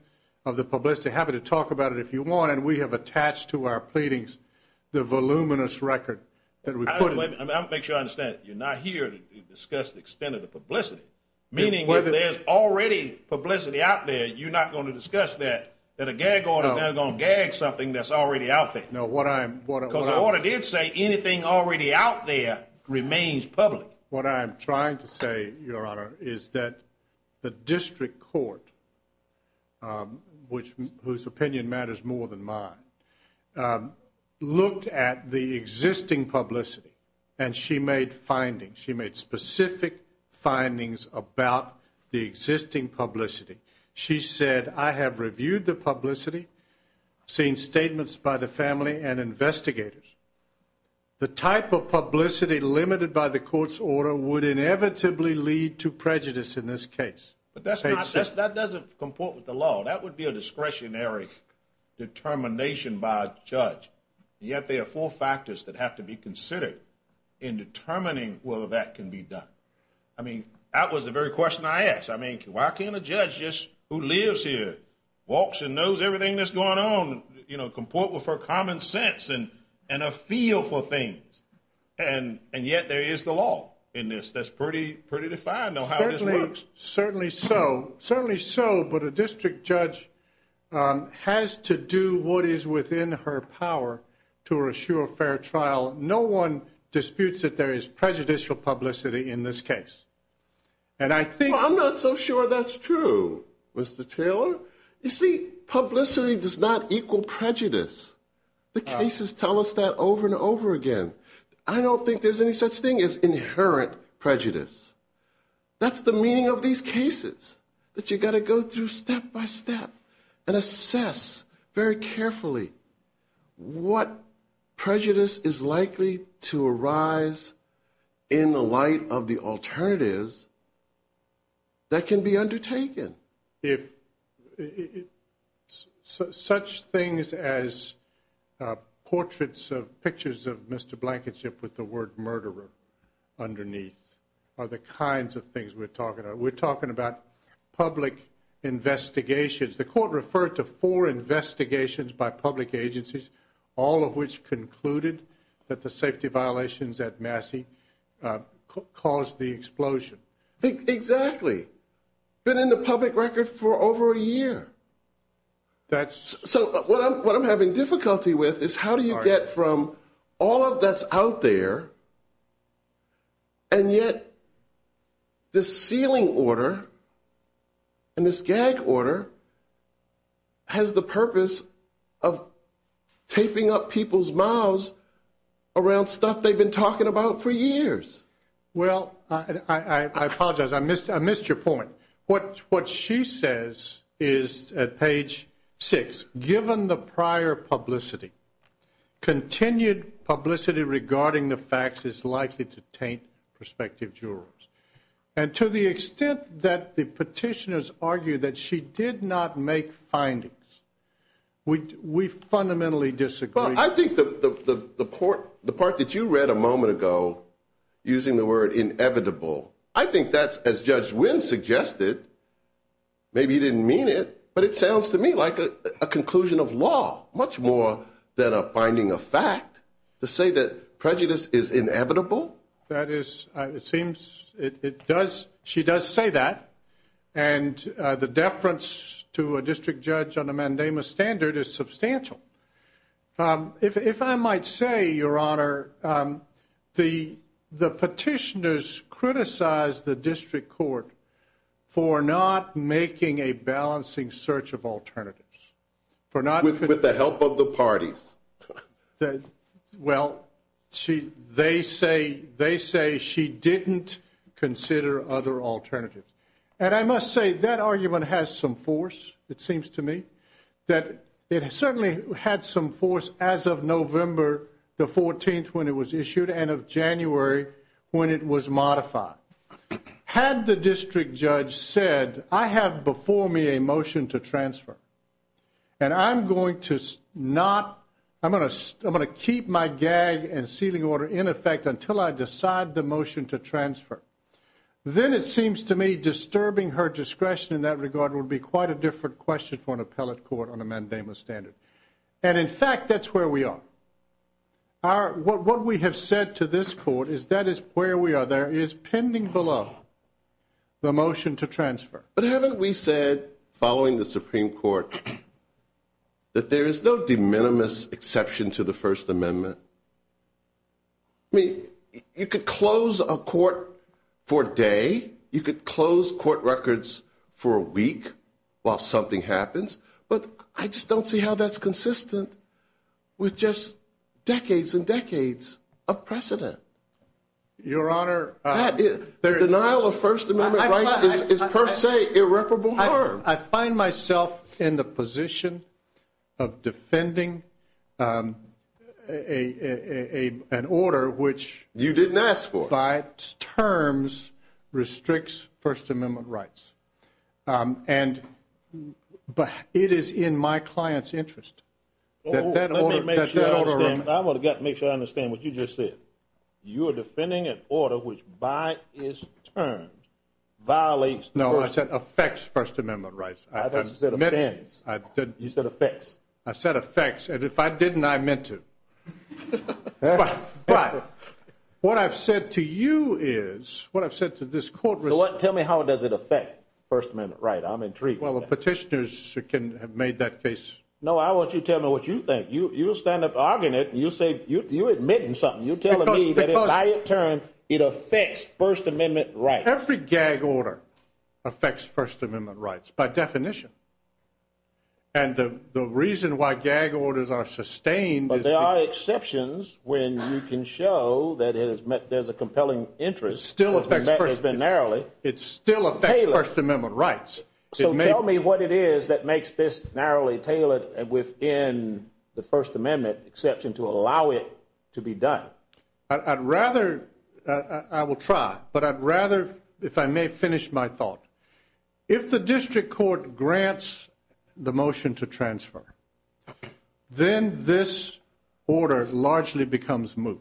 of the publicity. Happy to talk about it if you want. And we have attached to our pleadings the voluminous record that we put in. I don't make sure I understand. You're not here to discuss the extent of the publicity, meaning whether there's already publicity out there. You're not going to discuss that, that a gag order, they're going to gag something that's already out there. No, what I'm what I did say, anything already out there remains public. What I'm trying to say, Your Honor, is that the district court, which whose opinion matters more than mine, looked at the existing publicity and she made findings. She made specific findings about the existing publicity. She said, I have reviewed the publicity, seen statements by the family and investigators. The type of publicity limited by the court's order would inevitably lead to prejudice in this case. But that's not just that doesn't comport with the law. That would be a discretionary determination by a judge. Yet there are four factors that have to be considered in determining whether that can be done. I mean, that was the very question I asked. I mean, why can't a judge just who lives here, walks and knows everything that's going on, you know, comport with her common sense and and a feel for things. And and yet there is the law in this. That's pretty, pretty defined. Certainly. Certainly so. Certainly so. But a district judge has to do what is within her power to assure fair trial. No one disputes that there is prejudicial publicity in this case. And I think I'm not so sure that's true, Mr. Taylor. You see, publicity does not equal prejudice. The cases tell us that over and over again. I don't think there's any such thing as inherent prejudice. That's the meaning of these cases that you've got to go through step by step and assess very carefully what prejudice is likely to arise in the light of the alternatives. That can be undertaken if such things as portraits of pictures of Mr. Blankenship with the word murderer underneath are the kinds of things we're talking about. We're talking about public investigations. The court referred to four investigations by public agencies, all of which concluded that the safety violations at Massey caused the explosion. Exactly. Been in the public record for over a year. That's what I'm having difficulty with is how do you get from all of that's out there? And yet the ceiling order. And this gag order. Has the purpose of taping up people's mouths around stuff they've been talking about for years. Well, I apologize, I missed I missed your point. What what she says is at page six, given the prior publicity. Continued publicity regarding the facts is likely to taint prospective jurors. And to the extent that the petitioners argue that she did not make findings. We fundamentally disagree. Well, I think the port, the part that you read a moment ago, using the word inevitable. I think that's as Judge Wynn suggested. Maybe you didn't mean it, but it sounds to me like a conclusion of law, much more than a finding of fact to say that prejudice is inevitable. That is, it seems it does. She does say that. And the deference to a district judge on a mandamus standard is substantial. If I might say, Your Honor, the the petitioners criticize the district court for not making a balancing search of alternatives for not with the help of the parties. That well, she they say they say she didn't consider other alternatives. And I must say that argument has some force. It seems to me that it certainly had some force as of November the 14th when it was issued and of January when it was modified. Had the district judge said, I have before me a motion to transfer. And I'm going to not I'm going to I'm going to keep my gag and sealing order in effect until I decide the motion to transfer. Then it seems to me disturbing her discretion in that regard would be quite a different question for an appellate court on a mandamus standard. And in fact, that's where we are. Are what we have said to this court is that is where we are. There is pending below. The motion to transfer, but haven't we said following the Supreme Court. That there is no de minimis exception to the First Amendment. I mean, you could close a court for a day. You could close court records for a week while something happens. But I just don't see how that's consistent with just decades and decades of precedent. Your Honor, the denial of First Amendment right is per se irreparable. I find myself in the position of defending a an order, which you didn't ask for by terms restricts First Amendment rights. And but it is in my client's interest that that order. I want to make sure I understand what you just said. You are defending an order which by its turn violates. No, I said affects First Amendment rights. I said affects. I said affects. And if I didn't, I meant to. But what I've said to you is what I've said to this court. Tell me, how does it affect First Amendment right? I'm intrigued. Well, the petitioners can have made that case. No, I want you to tell me what you think. You stand up arguing it. You say you admit something. You tell me that by its turn, it affects First Amendment right. Every gag order affects First Amendment rights by definition. And the reason why gag orders are sustained. But there are exceptions when you can show that it has met. There's a compelling interest. Still affects. It's been narrowly. It still affects First Amendment rights. So tell me what it is that makes this narrowly tailored within the First Amendment exception to allow it to be done. I'd rather I will try, but I'd rather if I may finish my thought. If the district court grants the motion to transfer. Then this order largely becomes moot.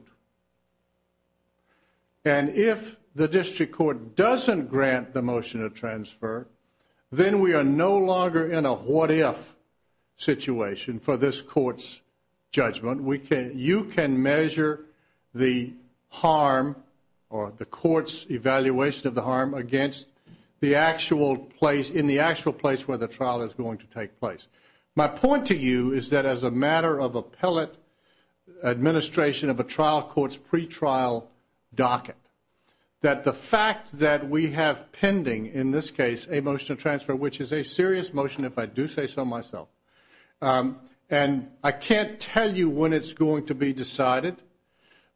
And if the district court doesn't grant the motion to transfer. Then we are no longer in a what if situation for this court's judgment. You can measure the harm or the court's evaluation of the harm against the actual place. In the actual place where the trial is going to take place. My point to you is that as a matter of appellate administration of a trial court's pretrial docket. That the fact that we have pending in this case, a motion to transfer, which is a serious motion, if I do say so myself. And I can't tell you when it's going to be decided.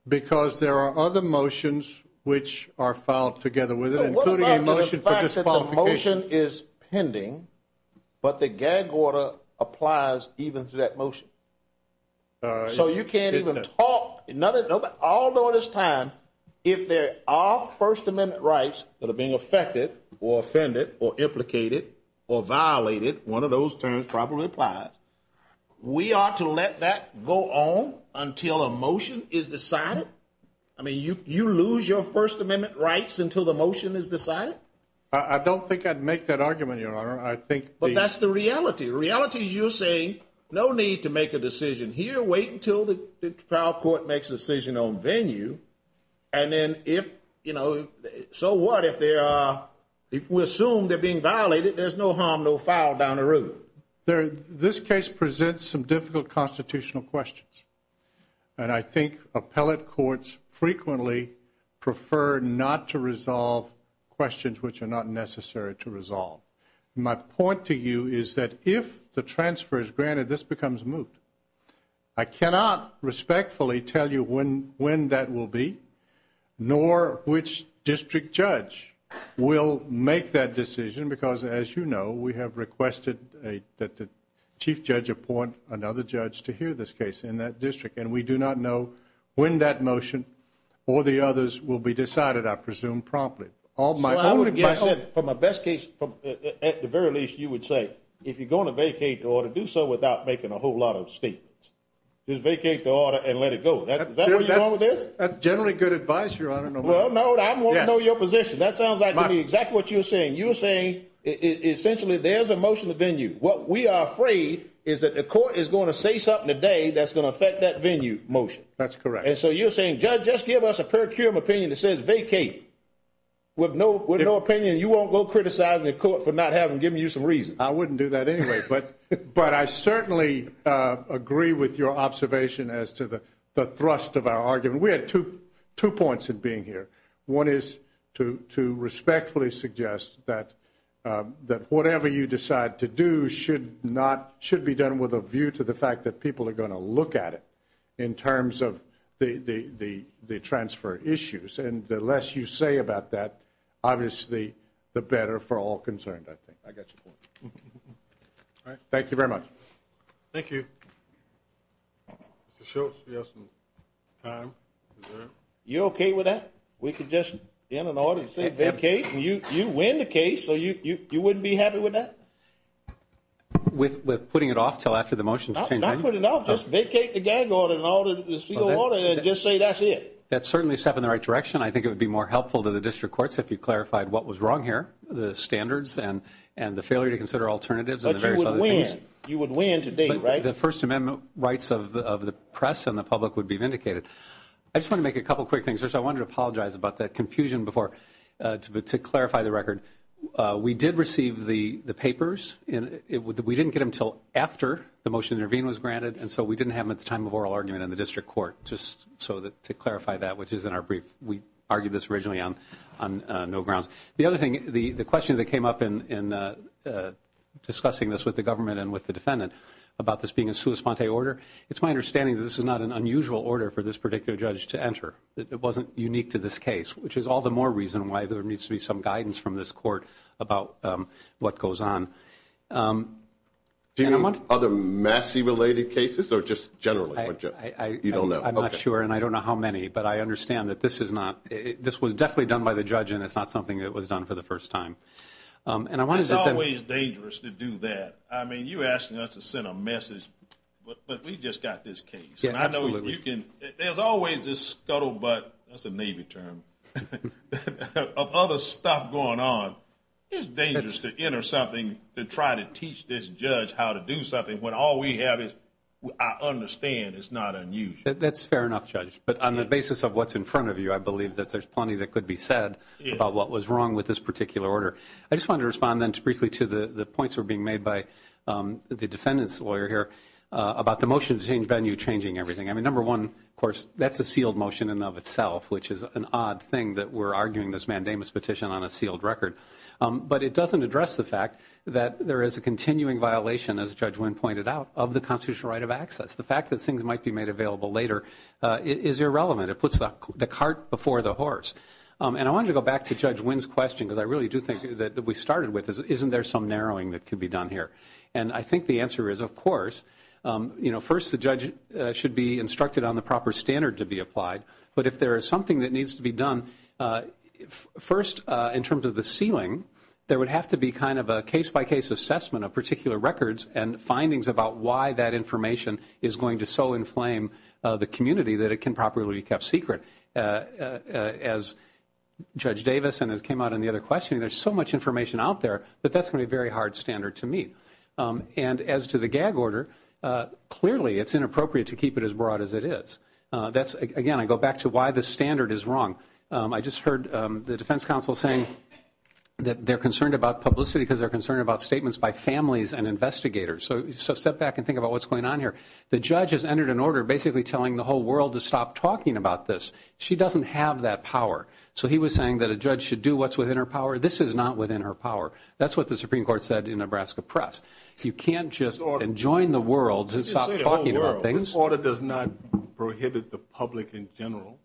Because there are other motions which are filed together with it, including a motion for disqualification is pending. But the gag order applies even to that motion. So you can't even talk all this time. If there are first amendment rights that are being affected or offended or implicated or violated. One of those terms probably applies. We ought to let that go on until a motion is decided. I mean you lose your first amendment rights until the motion is decided. I don't think I'd make that argument your honor. But that's the reality. The reality is you're saying no need to make a decision here. Wait until the trial court makes a decision on venue. And then if, you know, so what if we assume they're being violated. There's no harm, no foul down the road. This case presents some difficult constitutional questions. And I think appellate courts frequently prefer not to resolve questions which are not necessary to resolve. My point to you is that if the transfer is granted, this becomes moot. I cannot respectfully tell you when that will be. Nor which district judge will make that decision. Because as you know, we have requested that the chief judge appoint another judge to hear this case in that district. And we do not know when that motion or the others will be decided I presume promptly. From a best case, at the very least you would say if you're going to vacate the order, do so without making a whole lot of statements. Just vacate the order and let it go. Is that where you're going with this? That's generally good advice, your honor. Well, no, I want to know your position. That sounds like to me exactly what you're saying. You're saying essentially there's a motion to venue. What we are afraid is that the court is going to say something today that's going to affect that venue motion. That's correct. And so you're saying, judge, just give us a per cum opinion that says vacate. With no opinion, you won't go criticizing the court for not having given you some reason. I wouldn't do that anyway. But I certainly agree with your observation as to the thrust of our argument. We had two points in being here. One is to respectfully suggest that whatever you decide to do should be done with a view to the fact that people are going to look at it. In terms of the transfer issues. And the less you say about that, obviously, the better for all concerned, I think. I got your point. All right. Thank you very much. Thank you. Mr. Shultz, do you have some time? You okay with that? We could just in an order and say vacate. And you win the case. So you wouldn't be happy with that? With putting it off until after the motion is changed? Don't put it off. Just vacate the gang order in order to seal the order and just say that's it. That's certainly a step in the right direction. I think it would be more helpful to the district courts if you clarified what was wrong here. The standards and the failure to consider alternatives and the various other things. But you would win. You would win to date, right? The First Amendment rights of the press and the public would be vindicated. I just want to make a couple quick things. First, I wanted to apologize about that confusion before to clarify the record. We did receive the papers. We didn't get them until after the motion to intervene was granted. And so we didn't have them at the time of oral argument in the district court just to clarify that, which is in our brief. We argued this originally on no grounds. The other thing, the question that came up in discussing this with the government and with the defendant about this being a sua sponte order, it's my understanding that this is not an unusual order for this particular judge to enter. It wasn't unique to this case, which is all the more reason why there needs to be some guidance from this court about what goes on. Do you know of other Massey-related cases or just generally? You don't know. I'm not sure, and I don't know how many. But I understand that this was definitely done by the judge and it's not something that was done for the first time. It's always dangerous to do that. I mean, you're asking us to send a message, but we just got this case. Absolutely. There's always this scuttlebutt, that's a Navy term, of other stuff going on. It's dangerous to enter something to try to teach this judge how to do something when all we have is I understand it's not unusual. That's fair enough, Judge. But on the basis of what's in front of you, I believe that there's plenty that could be said about what was wrong with this particular order. I just wanted to respond then briefly to the points that were being made by the defendant's lawyer here about the motion to change venue changing everything. I mean, number one, of course, that's a sealed motion in and of itself, which is an odd thing that we're arguing this mandamus petition on a sealed record. But it doesn't address the fact that there is a continuing violation, as Judge Wynn pointed out, of the constitutional right of access. The fact that things might be made available later is irrelevant. It puts the cart before the horse. And I wanted to go back to Judge Wynn's question, because I really do think that we started with this. Isn't there some narrowing that could be done here? And I think the answer is, of course. First, the judge should be instructed on the proper standard to be applied. But if there is something that needs to be done, first, in terms of the sealing, there would have to be kind of a case-by-case assessment of particular records and findings about why that information is going to so inflame the community that it can properly be kept secret. As Judge Davis and as came out in the other questioning, there's so much information out there that that's going to be a very hard standard to meet. And as to the gag order, clearly it's inappropriate to keep it as broad as it is. Again, I go back to why the standard is wrong. I just heard the defense counsel saying that they're concerned about publicity because they're concerned about statements by families and investigators. So step back and think about what's going on here. The judge has entered an order basically telling the whole world to stop talking about this. She doesn't have that power. So he was saying that a judge should do what's within her power. This is not within her power. That's what the Supreme Court said in Nebraska Press. You can't just enjoin the world to stop talking about things. This order does not prohibit the public in general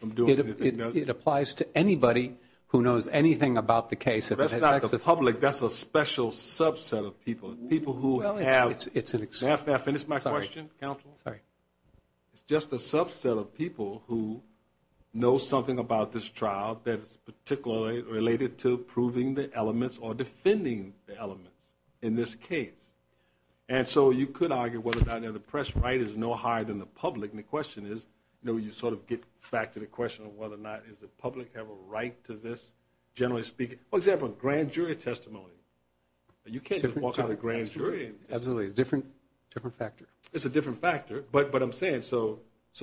from doing anything. It applies to anybody who knows anything about the case. That's not the public. That's a special subset of people, people who have. May I finish my question, counsel? Sorry. It's just a subset of people who know something about this trial that is particularly related to proving the elements or defending the elements in this case. And so you could argue whether or not the press right is no higher than the public. And the question is, you sort of get back to the question of whether or not does the public have a right to this, generally speaking. For example, grand jury testimony. You can't just walk out of the grand jury. Absolutely. It's a different factor. It's a different factor. But I'm saying so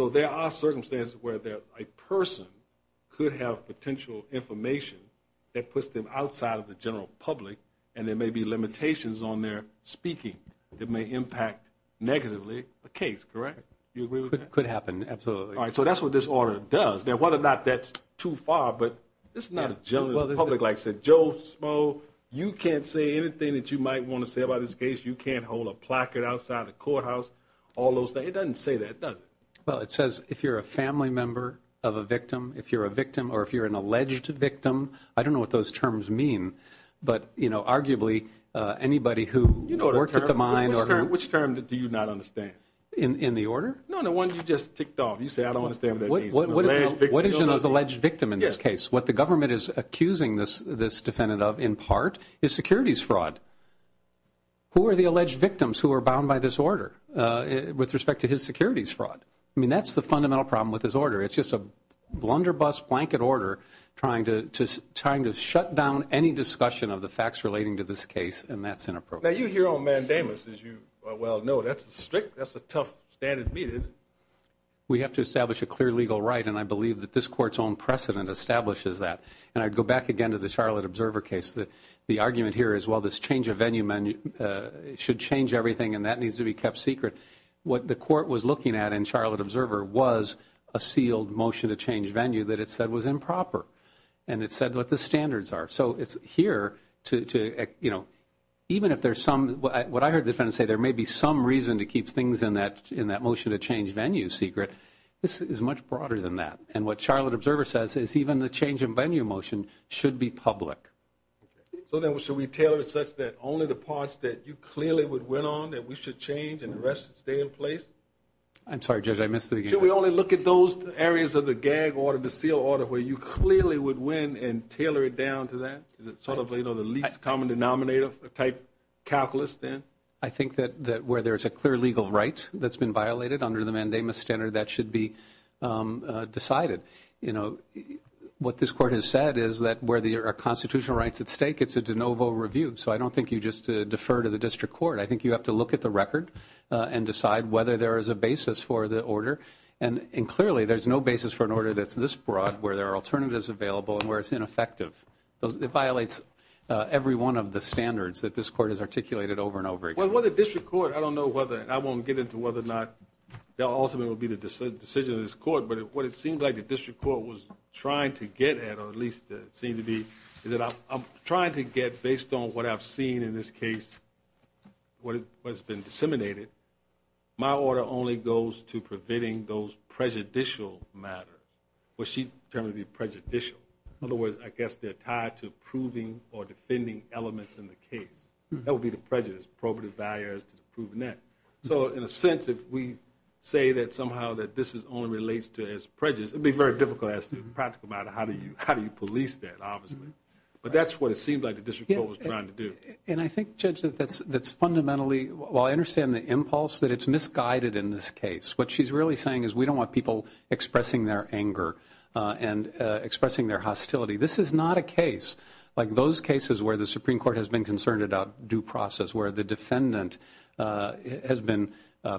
there are circumstances where a person could have potential information that puts them outside of the general public, and there may be limitations on their speaking that may impact negatively a case, correct? Do you agree with that? Could happen, absolutely. All right, so that's what this order does. Now, whether or not that's too far, but this is not a general public. Like I said, Joe, Smoe, you can't say anything that you might want to say about this case. You can't hold a placard outside the courthouse, all those things. It doesn't say that, does it? I don't know what those terms mean, but, you know, arguably anybody who worked at the mine. Which term do you not understand? In the order? No, the one you just ticked off. You said I don't understand what that means. What is an alleged victim in this case? What the government is accusing this defendant of, in part, is securities fraud. Who are the alleged victims who are bound by this order with respect to his securities fraud? I mean, that's the fundamental problem with this order. It's just a blunderbuss blanket order trying to shut down any discussion of the facts relating to this case, and that's inappropriate. Now, you're here on mandamus, as you well know. That's strict. That's a tough standard to meet, isn't it? We have to establish a clear legal right, and I believe that this Court's own precedent establishes that. And I'd go back again to the Charlotte Observer case. The argument here is, well, this change of venue should change everything, and that needs to be kept secret. What the Court was looking at in Charlotte Observer was a sealed motion to change venue that it said was improper, and it said what the standards are. So it's here to, you know, even if there's some, what I heard the defendant say, there may be some reason to keep things in that motion to change venue secret. This is much broader than that, and what Charlotte Observer says is even the change in venue motion should be public. So then should we tailor it such that only the parts that you clearly would win on, that we should change and the rest should stay in place? I'm sorry, Judge, I missed the beginning. Should we only look at those areas of the gag order, the sealed order, where you clearly would win and tailor it down to that? Is it sort of, you know, the least common denominator type calculus then? I think that where there's a clear legal right that's been violated under the mandamus standard, that should be decided. You know, what this Court has said is that where there are constitutional rights at stake, it's a de novo review. So I don't think you just defer to the district court. I think you have to look at the record and decide whether there is a basis for the order. And clearly there's no basis for an order that's this broad where there are alternatives available and where it's ineffective. It violates every one of the standards that this Court has articulated over and over again. Well, the district court, I don't know whether, and I won't get into whether or not the ultimate will be the decision of this Court, but what it seems like the district court was trying to get at, or at least it seemed to be, is that I'm trying to get, based on what I've seen in this case, what has been disseminated, my order only goes to preventing those prejudicial matters, what she termed the prejudicial. In other words, I guess they're tied to proving or defending elements in the case. That would be the prejudice, probative barriers to proving that. So in a sense, if we say that somehow that this only relates to its prejudice, it would be very difficult to ask a practical matter how do you police that, obviously. But that's what it seemed like the district court was trying to do. And I think, Judge, that's fundamentally, while I understand the impulse, that it's misguided in this case. What she's really saying is we don't want people expressing their anger and expressing their hostility. This is not a case like those cases where the Supreme Court has been concerned about due process, where the defendant has been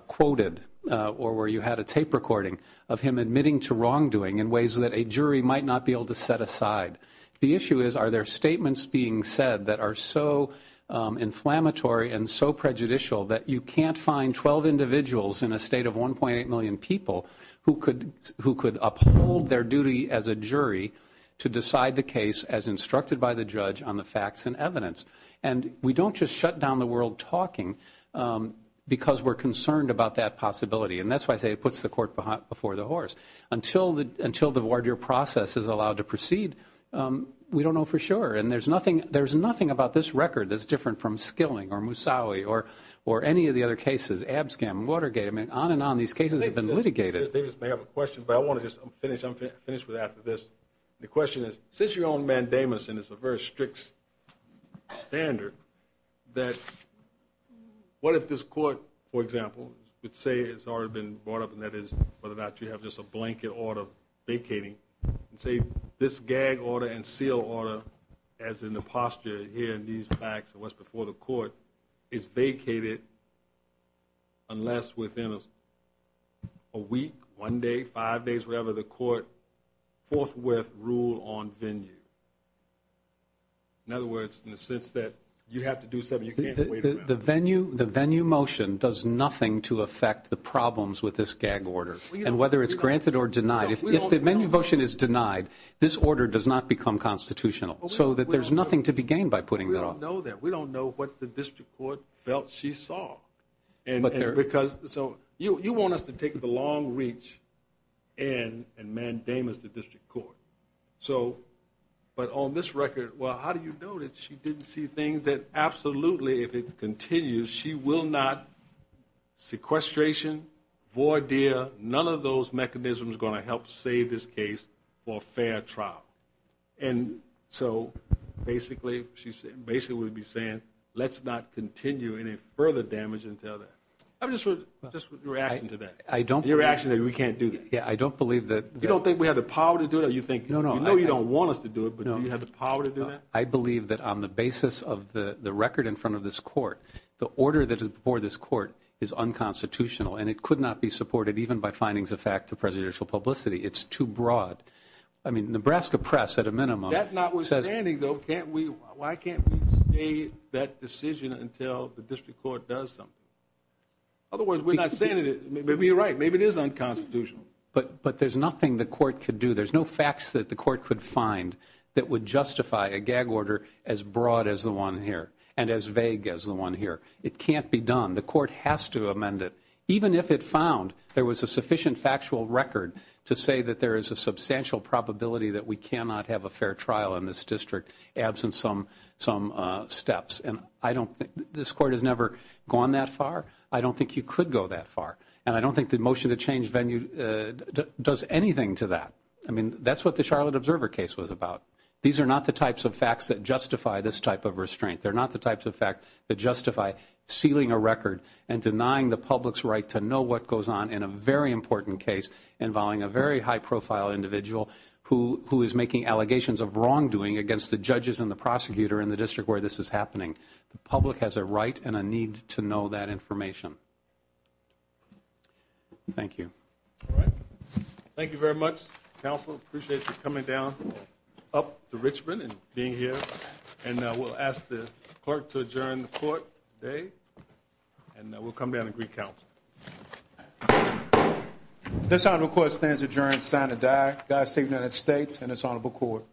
quoted, or where you had a tape recording of him admitting to wrongdoing in ways that a jury might not be able to set aside. The issue is are there statements being said that are so inflammatory and so prejudicial that you can't find 12 individuals in a state of 1.8 million people who could uphold their duty as a jury to decide the case as instructed by the judge on the facts and evidence. And we don't just shut down the world talking because we're concerned about that possibility. And that's why I say it puts the court before the horse. Until the voir dire process is allowed to proceed, we don't know for sure. And there's nothing about this record that's different from Skilling or Musawi or any of the other cases, Abscam, Watergate. I mean, on and on, these cases have been litigated. Davis may have a question, but I want to just finish with after this. The question is, since you're on mandamus and it's a very strict standard, that what if this court, for example, would say it's already been brought up and that is whether or not you have just a blanket order vacating, and say this gag order and seal order, as in the posture here in these facts and what's before the court, is vacated unless within a week, one day, five days, whatever, the court forthwith rule on venue. In other words, in the sense that you have to do something you can't wait around. The venue motion does nothing to affect the problems with this gag order. And whether it's granted or denied, if the venue motion is denied, this order does not become constitutional so that there's nothing to be gained by putting that on. We don't know that. We don't know what the district court felt she saw. So you want us to take the long reach and mandamus the district court. But on this record, well, how do you know that she didn't see things that absolutely, if it continues, she will not sequestration, voir dire, none of those mechanisms are going to help save this case for a fair trial. And so basically, she would be saying, let's not continue any further damage until then. Just your reaction to that. Your reaction that we can't do that. Yeah, I don't believe that. You don't think we have the power to do that? No, no. You know you don't want us to do it, but do you have the power to do that? I believe that on the basis of the record in front of this court, the order that is before this court is unconstitutional, and it could not be supported even by findings of fact to presidential publicity. It's too broad. I mean, Nebraska Press, at a minimum. That notwithstanding, though, can't we, why can't we stay that decision until the district court does something? Otherwise, we're not saying it. Maybe you're right. Maybe it is unconstitutional. But there's nothing the court could do. There's no facts that the court could find that would justify a gag order as broad as the one here and as vague as the one here. It can't be done. The court has to amend it. Even if it found there was a sufficient factual record to say that there is a substantial probability that we cannot have a fair trial in this district absent some steps. And I don't think, this court has never gone that far. I don't think you could go that far. And I don't think the motion to change venue does anything to that. I mean, that's what the Charlotte Observer case was about. These are not the types of facts that justify this type of restraint. They're not the types of facts that justify sealing a record and denying the public's right to know what goes on in a very important case involving a very high-profile individual who is making allegations of wrongdoing against the judges and the prosecutor in the district where this is happening. The public has a right and a need to know that information. Thank you. All right. Thank you very much, counsel. Appreciate you coming down up to Richmond and being here. And we'll ask the clerk to adjourn the court today. And we'll come down and greet counsel. This honorable court stands adjourned, sign of the die. God save the United States and this honorable court.